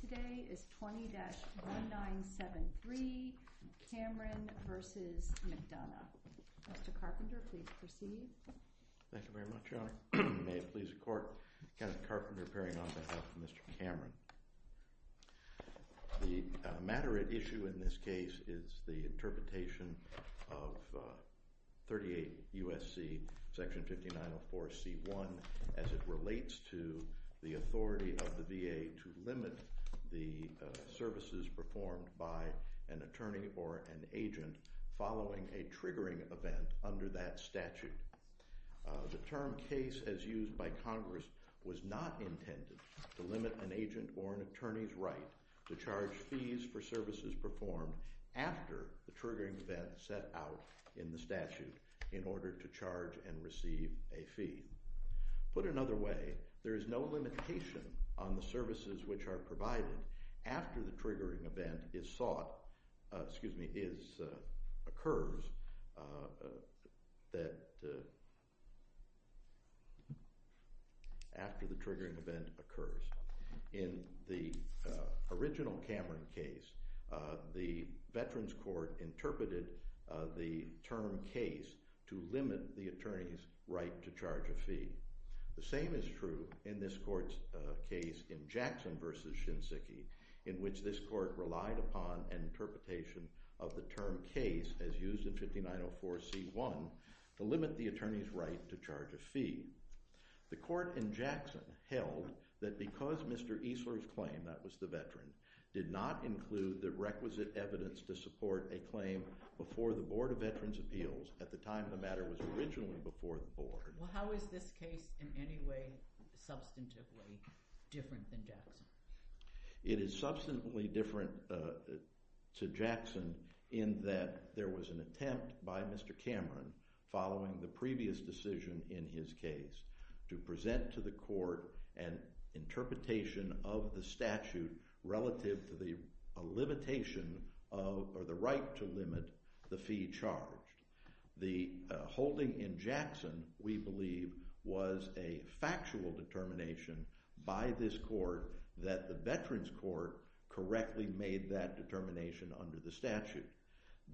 The matter at issue in this case is the interpretation of 38 U.S.C. section 5904c.1 as it relates to the authority of the VA to limit the services performed by an attorney or an agent following a triggering event under that statute. The term case as used by Congress was not intended to limit an agent or an attorney's right to charge fees for services performed after the triggering event set out in the statute in order to charge and receive a fee. Put another way, there is no limitation on the services which are provided after the triggering event occurs. In the original Cameron case, the Veterans Court interpreted the term case to limit the attorney's right to charge a fee. The same is true in this court's case in Jackson v. Shinziki in which this court relied upon an interpretation of the term case as used in 5904c.1 to limit the attorney's right to charge a fee. The court in Jackson held that because Mr. Easler's claim that was the veteran did not include the requisite evidence to support a claim before the Board of Veterans' Appeals at the time the matter was originally before the board. Well, how is this case in any way substantively different than Jackson? It is substantively different to Jackson in that there was an attempt by Mr. Cameron following the previous decision in his case to present to the court an interpretation of the statute relative to the limitation or the right to limit the fee charged. The holding in Jackson, we believe, was a factual determination by this court that the Veterans Court correctly made that determination under the statute.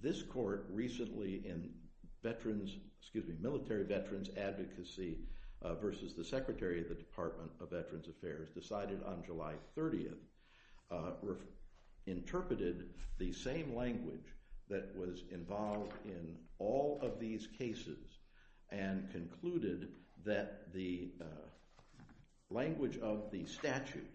This court recently in Military Veterans Advocacy v. the Secretary of the Department of Veterans Affairs decided on July 30th, interpreted the same language that was involved in all of these cases and concluded that the language of the statute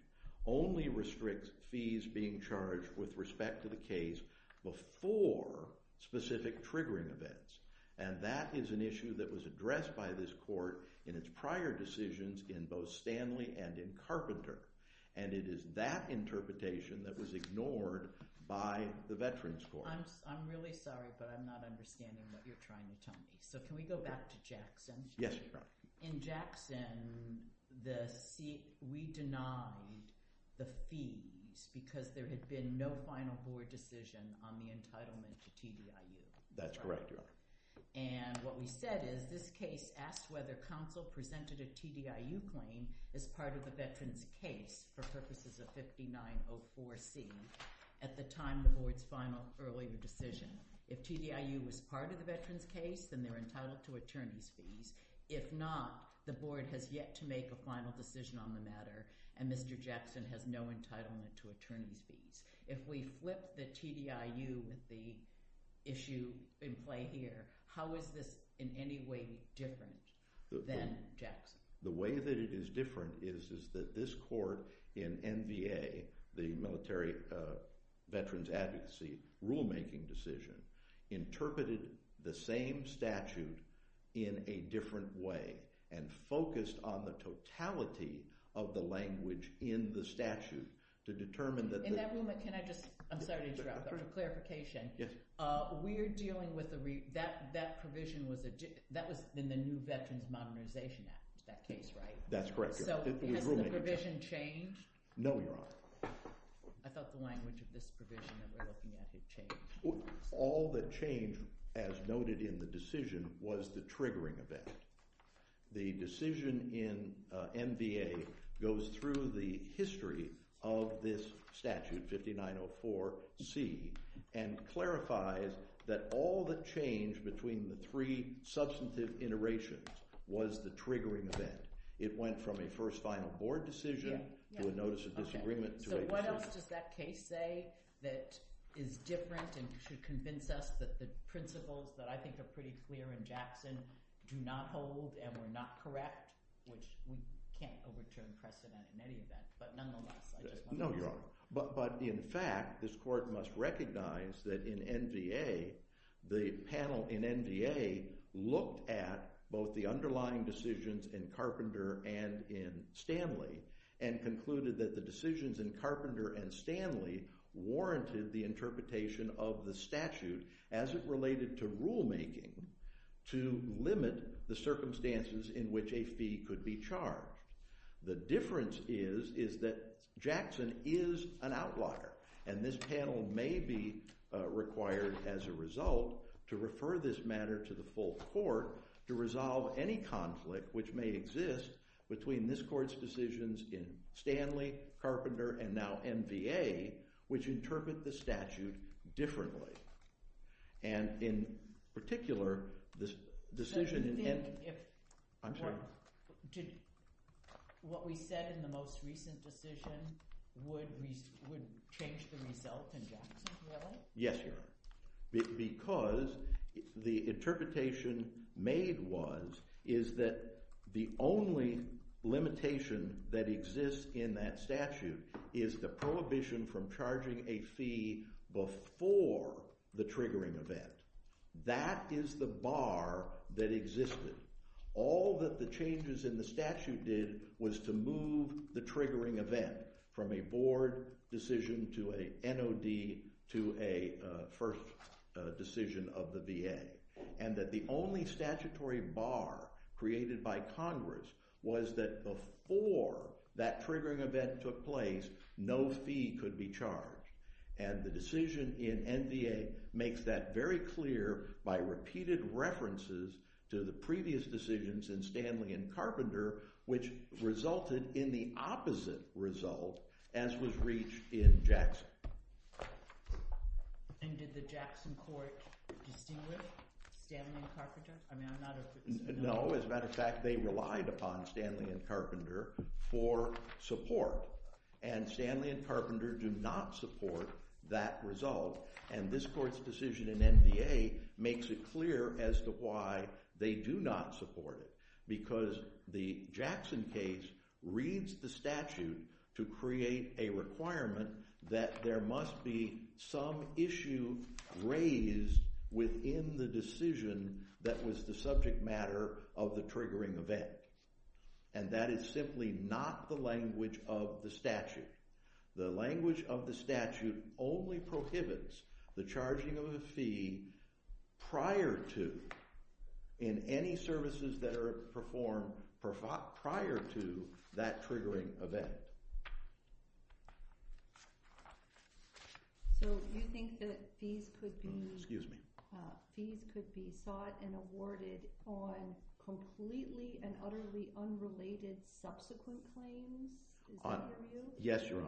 only restricts fees being charged with respect to the case before specific triggering events. And that is an issue that was addressed by this court in its prior decisions in both Stanley and in Carpenter. And it is that interpretation that was ignored by the Veterans Court. I'm really sorry, but I'm not understanding what you're trying to tell me. So can we go back to Jackson? Yes, you're right. In Jackson, we denied the fees because there had been no final board decision on the entitlement to TDIU. That's correct. And what we said is this case asked whether counsel presented a TDIU claim as part of the Veterans case for purposes of 5904C at the time the board's final earlier decision. If TDIU was part of the Veterans case, then they're entitled to attorney's fees. If not, the board has yet to make a final decision on the matter, and Mr. Jackson has no entitlement to attorney's fees. If we flip the TDIU with the issue in play here, how is this in any way different than Jackson? The way that it is different is that this court in NVA, the Military Veterans Advocacy rulemaking decision, interpreted the same statute in a different way and focused on the totality of the language in the statute to determine that the – So has the provision changed? No, Your Honor. I thought the language of this provision that we're looking at had changed. All that changed, as noted in the decision, was the triggering event. The decision in NVA goes through the history of this statute, 5904C, and clarifies that all the change between the three substantive iterations was the triggering event. It went from a first final board decision to a notice of disagreement to a – What else does that case say that is different and should convince us that the principles that I think are pretty clear in Jackson do not hold and were not correct? Which we can't overturn precedent in any of that, but nonetheless, I just wanted to – warranted the interpretation of the statute as it related to rulemaking to limit the circumstances in which a fee could be charged. The difference is that Jackson is an outlaw, and this panel may be required, as a result, to refer this matter to the full court to resolve any conflict which may exist between this court's decisions in Stanley, Carpenter, and now NVA, which interpret the statute differently. And in particular, this decision – But do you think if – I'm sorry? What we said in the most recent decision would change the result in Jackson, really? Because the interpretation made was – is that the only limitation that exists in that statute is the prohibition from charging a fee before the triggering event. That is the bar that existed. All that the changes in the statute did was to move the triggering event from a board decision to an NOD to a first decision of the VA, and that the only statutory bar created by Congress was that before that triggering event took place, no fee could be charged. And the decision in NVA makes that very clear by repeated references to the previous decisions in Stanley and Carpenter, which resulted in the opposite result, as was reached in Jackson. And did the Jackson court distinguish Stanley and Carpenter? I mean, I'm not a – No. As a matter of fact, they relied upon Stanley and Carpenter for support, and Stanley and Carpenter do not support that result. And this court's decision in NVA makes it clear as to why they do not support it, because the Jackson case reads the statute to create a requirement that there must be some issue raised within the decision that was the subject matter of the triggering event. And that is simply not the language of the statute. The language of the statute only prohibits the charging of a fee prior to – in any services that are performed prior to that triggering event. So you think that fees could be – Excuse me. Fees could be sought and awarded on completely and utterly unrelated subsequent claims? Is that your view?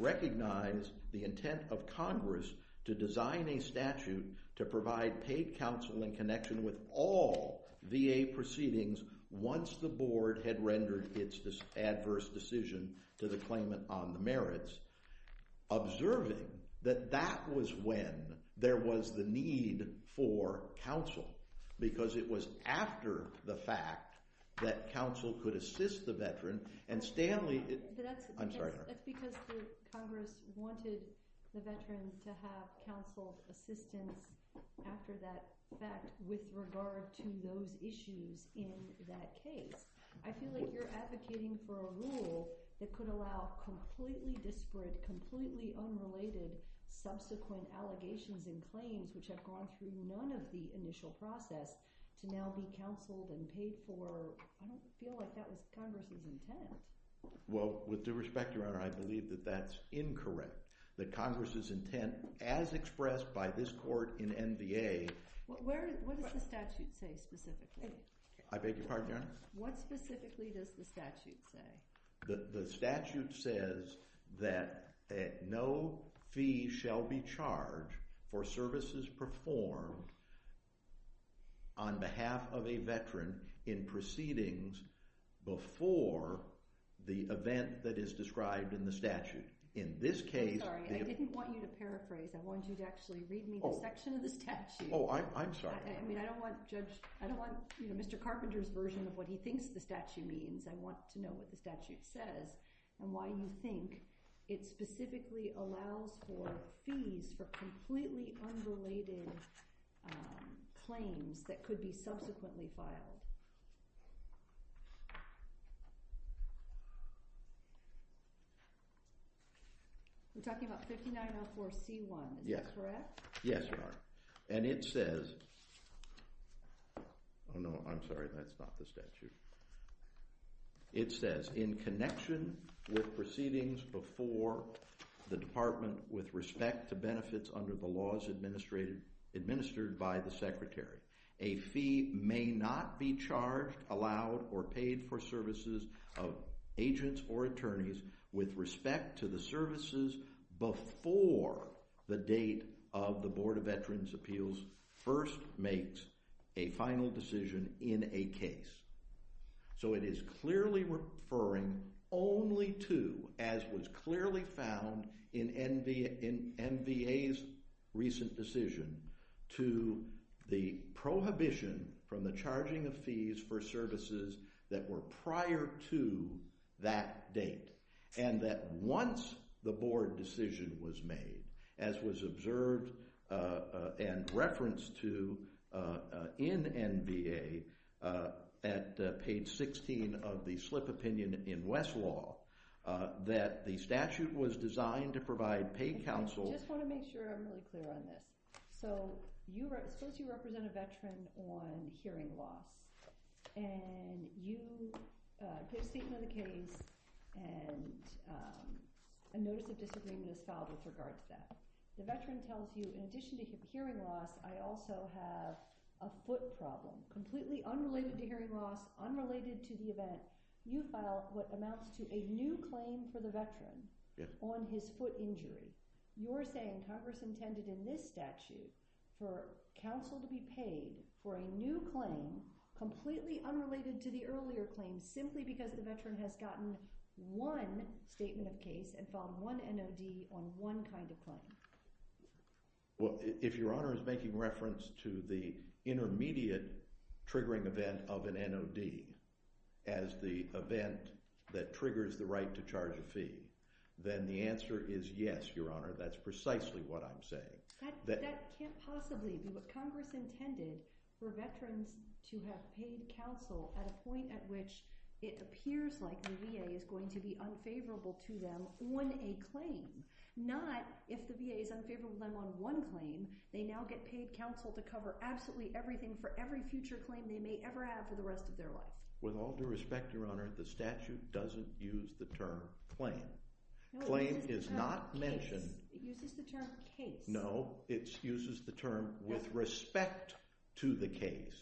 recognize the intent of Congress to design a statute to provide paid counsel in connection with all VA proceedings once the board had rendered its adverse decision to the claimant on the merits, observing that that was when there was the need for counsel, because it was after the fact that counsel could assist the veteran. That's because Congress wanted the veteran to have counsel assistance after that fact with regard to those issues in that case. I feel like you're advocating for a rule that could allow completely disparate, completely unrelated subsequent allegations and claims which have gone through none of the initial process to now be counseled and paid for. I don't feel like that was Congress's intent. Well, with due respect, Your Honor, I believe that that's incorrect, that Congress's intent, as expressed by this court in NVA – What does the statute say specifically? What specifically does the statute say? The statute says that no fee shall be charged for services performed on behalf of a veteran in proceedings before the event that is described in the statute. In this case – Let me paraphrase. I want you to actually read me the section of the statute. Oh, I'm sorry. I don't want Mr. Carpenter's version of what he thinks the statute means. I want to know what the statute says and why you think it specifically allows for fees for completely unrelated claims that could be subsequently filed. We're talking about 5904C1. Is that correct? Yes, Your Honor. And it says – oh, no, I'm sorry. That's not the statute. It says, in connection with proceedings before the Department with respect to benefits under the laws administered by the Secretary, a fee may not be charged, allowed, or paid for services of agents or attorneys with respect to the services before the date of the Board of Veterans' Appeals first makes a final decision in a case. So it is clearly referring only to, as was clearly found in NVA's recent decision, to the prohibition from the charging of fees for services that were prior to that date. And that once the Board decision was made, as was observed and referenced to in NVA at page 16 of the Slip Opinion in Westlaw, that the statute was designed to provide paid counsel – a notice of disagreement is filed with regard to that. The veteran tells you, in addition to hearing loss, I also have a foot problem, completely unrelated to hearing loss, unrelated to the event. You file what amounts to a new claim for the veteran on his foot injury. You're saying Congress intended in this statute for counsel to be paid for a new claim, completely unrelated to the earlier claim, simply because the veteran has gotten one statement of case and filed one NOD on one kind of claim. Well, if Your Honor is making reference to the intermediate triggering event of an NOD as the event that triggers the right to charge a fee, then the answer is yes, Your Honor, that's precisely what I'm saying. That can't possibly be what Congress intended for veterans to have paid counsel at a point at which it appears like the VA is going to be unfavorable to them on a claim, not if the VA is unfavorable to them on one claim. They now get paid counsel to cover absolutely everything for every future claim they may ever have for the rest of their life. With all due respect, Your Honor, the statute doesn't use the term claim. Claim is not mentioned. It uses the term case. No, it uses the term with respect to the case.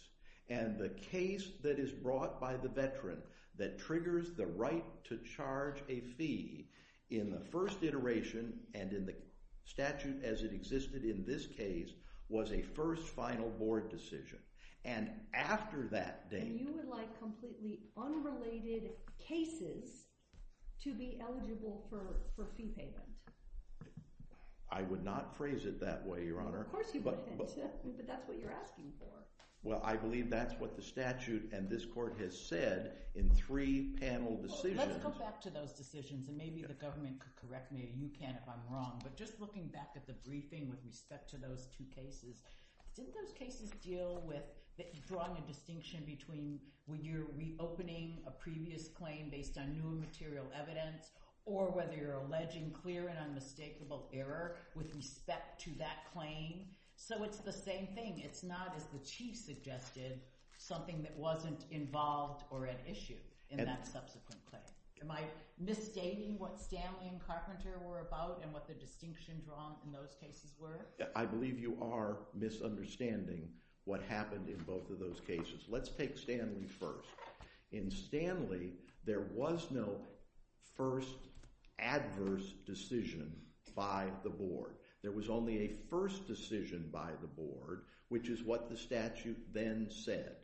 And the case that is brought by the veteran that triggers the right to charge a fee in the first iteration and in the statute as it existed in this case was a first final board decision. And after that date... And you would like completely unrelated cases to be eligible for fee payment? I would not phrase it that way, Your Honor. Of course you wouldn't, but that's what you're asking for. Well, I believe that's what the statute and this court has said in three panel decisions. Let's go back to those decisions, and maybe the government could correct me, or you can if I'm wrong. But just looking back at the briefing with respect to those two cases, didn't those cases deal with drawing a distinction between when you're reopening a previous claim based on new material evidence or whether you're alleging clear and unmistakable error with respect to that claim? So it's the same thing. It's not, as the Chief suggested, something that wasn't involved or at issue in that subsequent claim. Am I misstating what Stanley and Carpenter were about and what the distinction drawn in those cases were? I believe you are misunderstanding what happened in both of those cases. Let's take Stanley first. In Stanley, there was no first adverse decision by the board. There was only a first decision by the board, which is what the statute then said.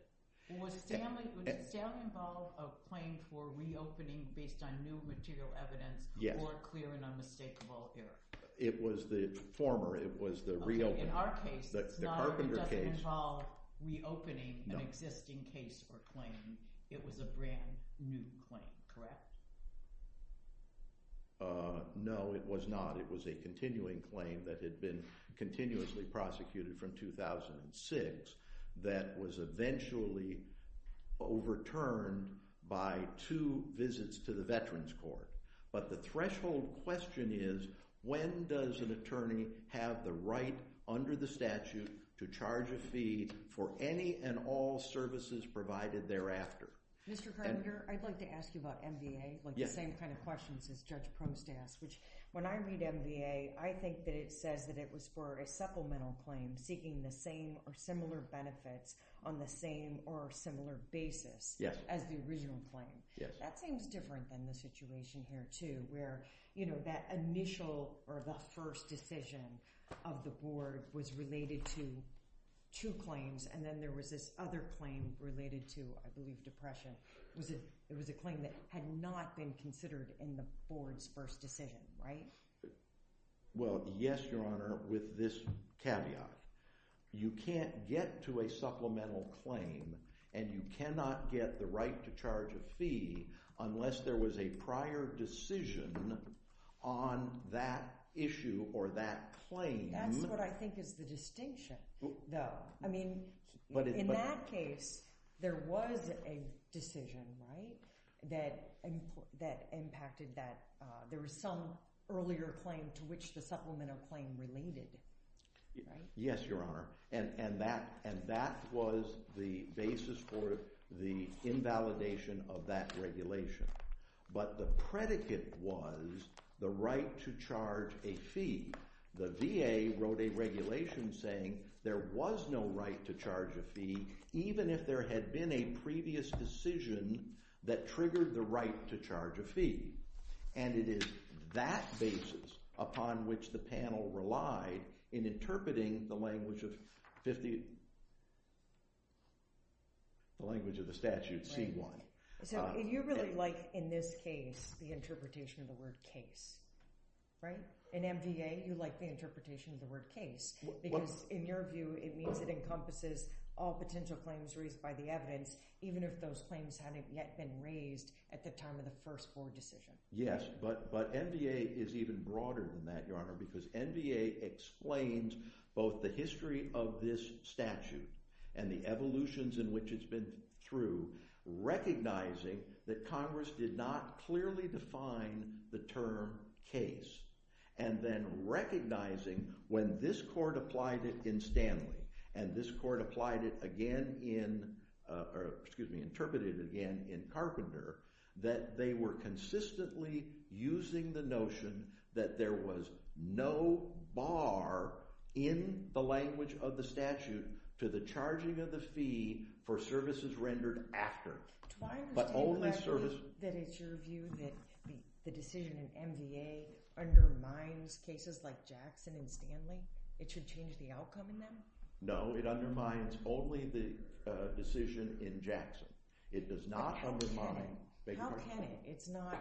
Was Stanley involved in a claim for reopening based on new material evidence or clear and unmistakable error? It was the former. It was the reopening. In our case, it doesn't involve reopening an existing case or claim. It was a brand new claim, correct? No, it was not. It was a brand new claim that had been continuously prosecuted from 2006 that was eventually overturned by two visits to the Veterans Court. But the threshold question is, when does an attorney have the right under the statute to charge a fee for any and all services provided thereafter? Mr. Carpenter, I'd like to ask you about MVA, the same kind of questions as Judge Prost asked. When I read MVA, I think that it says that it was for a supplemental claim seeking the same or similar benefits on the same or similar basis as the original claim. That seems different than the situation here, too, where that initial or the first decision of the board was related to two claims. And then there was this other claim related to, I believe, depression. It was a claim that had not been considered in the board's first decision, right? Well, yes, Your Honor, with this caveat. You can't get to a supplemental claim and you cannot get the right to charge a fee unless there was a prior decision on that issue or that claim. That's what I think is the distinction, though. In that case, there was a decision that impacted that. There was some earlier claim to which the supplemental claim related, right? Yes, Your Honor, and that was the basis for the invalidation of that regulation. But the predicate was the right to charge a fee. The VA wrote a regulation saying there was no right to charge a fee, even if there had been a previous decision that triggered the right to charge a fee. And it is that basis upon which the panel relied in interpreting the language of the statute, C-1. So you really like, in this case, the interpretation of the word case, right? In MVA, you like the interpretation of the word case because, in your view, it means it encompasses all potential claims raised by the evidence, even if those claims hadn't yet been raised at the time of the first board decision. Yes, but MVA is even broader than that, Your Honor, because MVA explains both the history of this statute and the evolutions in which it's been through, recognizing that Congress did not clearly define the term case, and then recognizing when this court applied it in Stanley and this court applied it again in, or excuse me, interpreted it again in Carpenter, that they were consistently using the notion that there was no bar in the language of the statute to the charging of the fee for services rendered after. Do I understand correctly that it's your view that the decision in MVA undermines cases like Jackson and Stanley? It should change the outcome in them? No, it undermines only the decision in Jackson. It does not undermine— How can it? It's not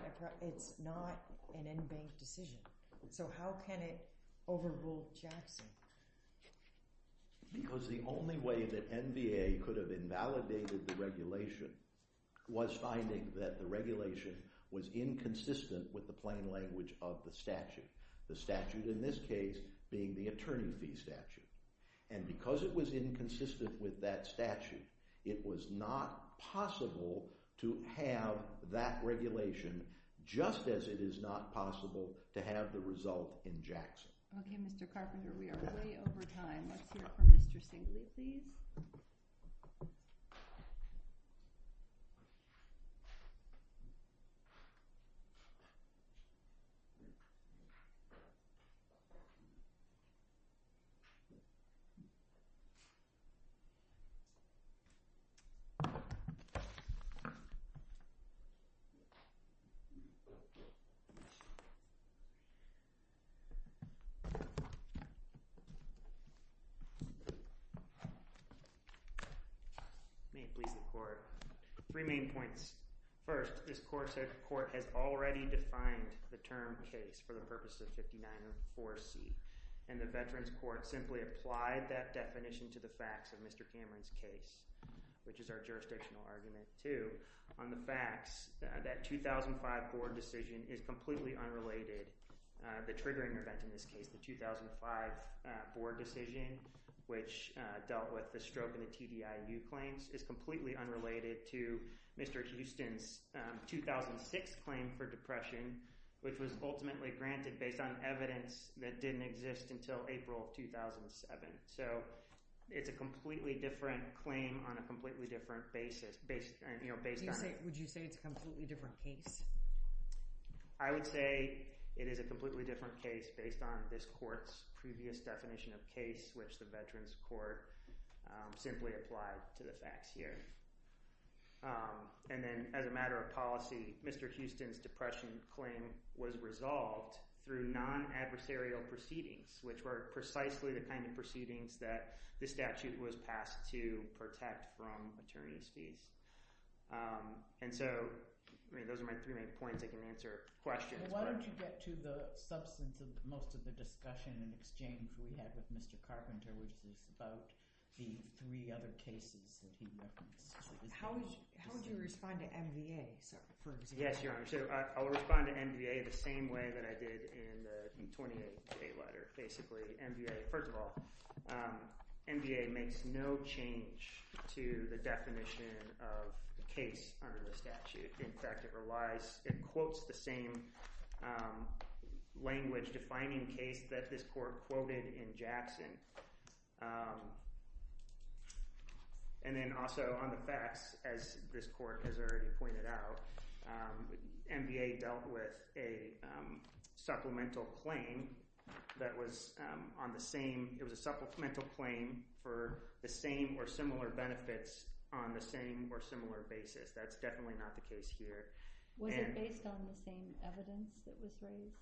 an in-bank decision. So how can it overrule Jackson? Because the only way that MVA could have invalidated the regulation was finding that the regulation was inconsistent with the plain language of the statute, the statute in this case being the attorney fee statute. And because it was inconsistent with that statute, it was not possible to have that regulation, just as it is not possible to have the result in Jackson. Okay, Mr. Carpenter, we are way over time. Let's hear from Mr. Singley, please. May it please the court. Three main points. First, this court said the court has already defined the term case for the purposes of 5904C, and the Veterans Court simply applied that definition to the facts of Mr. Cameron's case, which is our jurisdictional argument, too, on the facts that 2005 board decision is completely unrelated. The triggering event in this case, the 2005 board decision, which dealt with the stroke and the TDIU claims, is completely unrelated to Mr. Houston's 2006 claim for depression, which was ultimately granted based on evidence that didn't exist until April 2007. So it's a completely different claim on a completely different basis. Would you say it's a completely different case? I would say it is a completely different case based on this court's previous definition of case, which the Veterans Court simply applied to the facts here. And then as a matter of policy, Mr. Houston's depression claim was resolved through non-adversarial proceedings, which were precisely the kind of proceedings that the statute was passed to protect from attorney's fees. And so those are my three main points. I can answer questions. Why don't you get to the substance of most of the discussion and exchange we had with Mr. Carpenter, which was about the three other cases that he referenced? How would you respond to MVA, for example? It's a very different case under the statute. In fact, it quotes the same language-defining case that this court quoted in Jackson. And then also on the facts, as this court has already pointed out, MVA dealt with a supplemental claim that was on the same – it was a supplemental claim for the same or similar benefits on the same or similar basis. That's definitely not the case here. Was it based on the same evidence that was laid?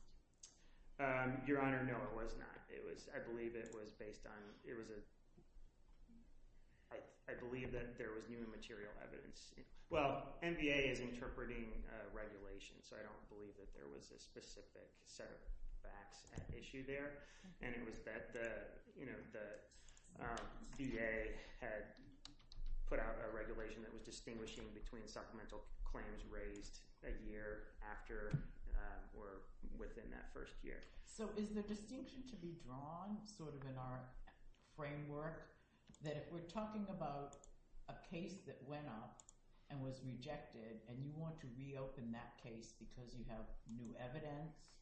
Your Honor, no, it was not. It was – I believe it was based on – it was a – I believe that there was new material evidence. Well, MVA is interpreting regulations, so I don't believe that there was a specific set of facts at issue there. And it was that the VA had put out a regulation that was distinguishing between supplemental claims raised a year after or within that first year. So is the distinction to be drawn sort of in our framework, that if we're talking about a case that went up and was rejected and you want to reopen that case because you have new evidence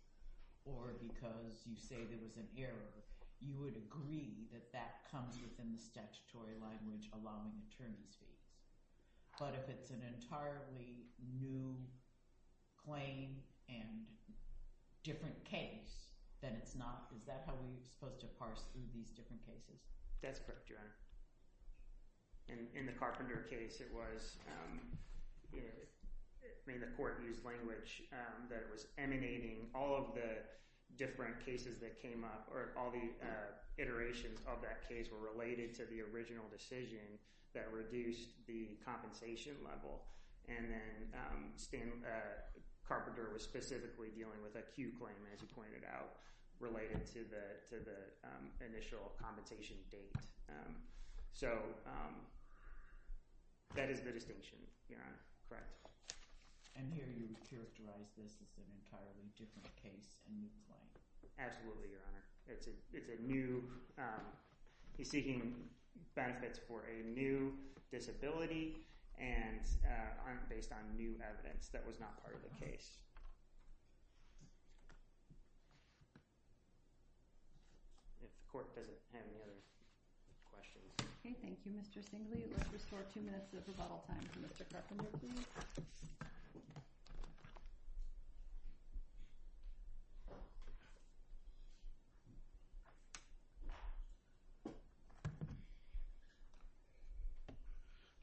or because you say there was an error, you would agree that that comes within the statutory language allowing attorneys to – but if it's an entirely new claim and different case, then it's not – is that how we're supposed to parse through these different cases? That's correct, Your Honor. And in the Carpenter case, it was – I mean the court used language that was emanating all of the different cases that came up or all the iterations of that case were related to the original decision that reduced the compensation level. And then Carpenter was specifically dealing with a Q claim, as you pointed out, related to the initial compensation date. So that is the distinction, Your Honor. And here you characterize this as an entirely different case. Absolutely, Your Honor. It's a new – he's seeking benefits for a new disability and aren't based on new evidence. That was not part of the case. If the court doesn't have any other questions. Okay, thank you, Mr. Singley. Let's restore two minutes of rebuttal time for Mr. Carpenter, please.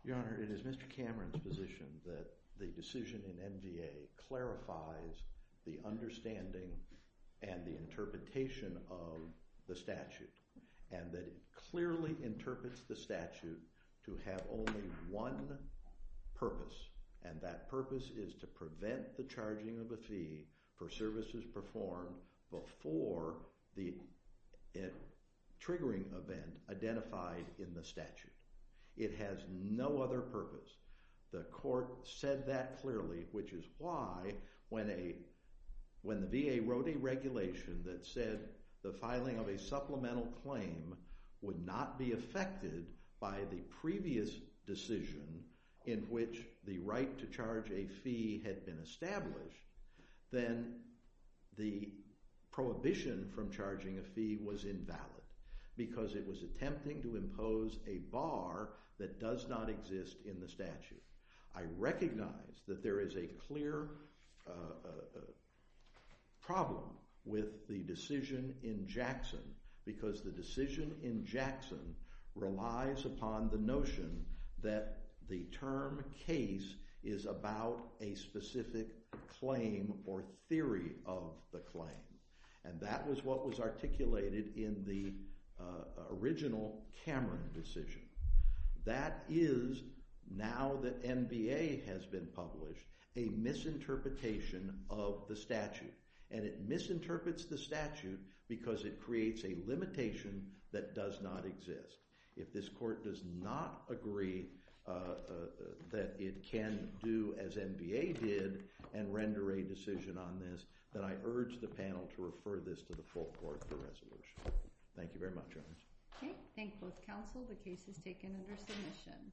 Your Honor, it is Mr. Cameron's position that the decision in MVA clarifies the understanding and the interpretation of the statute and that it clearly interprets the statute to have only one purpose. And that purpose is to prevent the charging of a fee for services performed before the triggering event identified in the statute. It has no other purpose. The court said that clearly, which is why when the VA wrote a regulation that said the filing of a supplemental claim would not be affected by the previous decision in which the right to charge a fee had been established, then the prohibition from charging a fee was invalid because it was attempting to impose a bar that does not exist in the statute. I recognize that there is a clear problem with the decision in Jackson because the decision in Jackson relies upon the notion that the term case is about a specific claim or theory of the claim. And that was what was articulated in the original Cameron decision. That is, now that MVA has been published, a misinterpretation of the statute. And it misinterprets the statute because it creates a limitation that does not exist. If this court does not agree that it can do as MVA did and render a decision on this, then I urge the panel to refer this to the full court for resolution. Okay, thank both counsel. The case is taken under submission.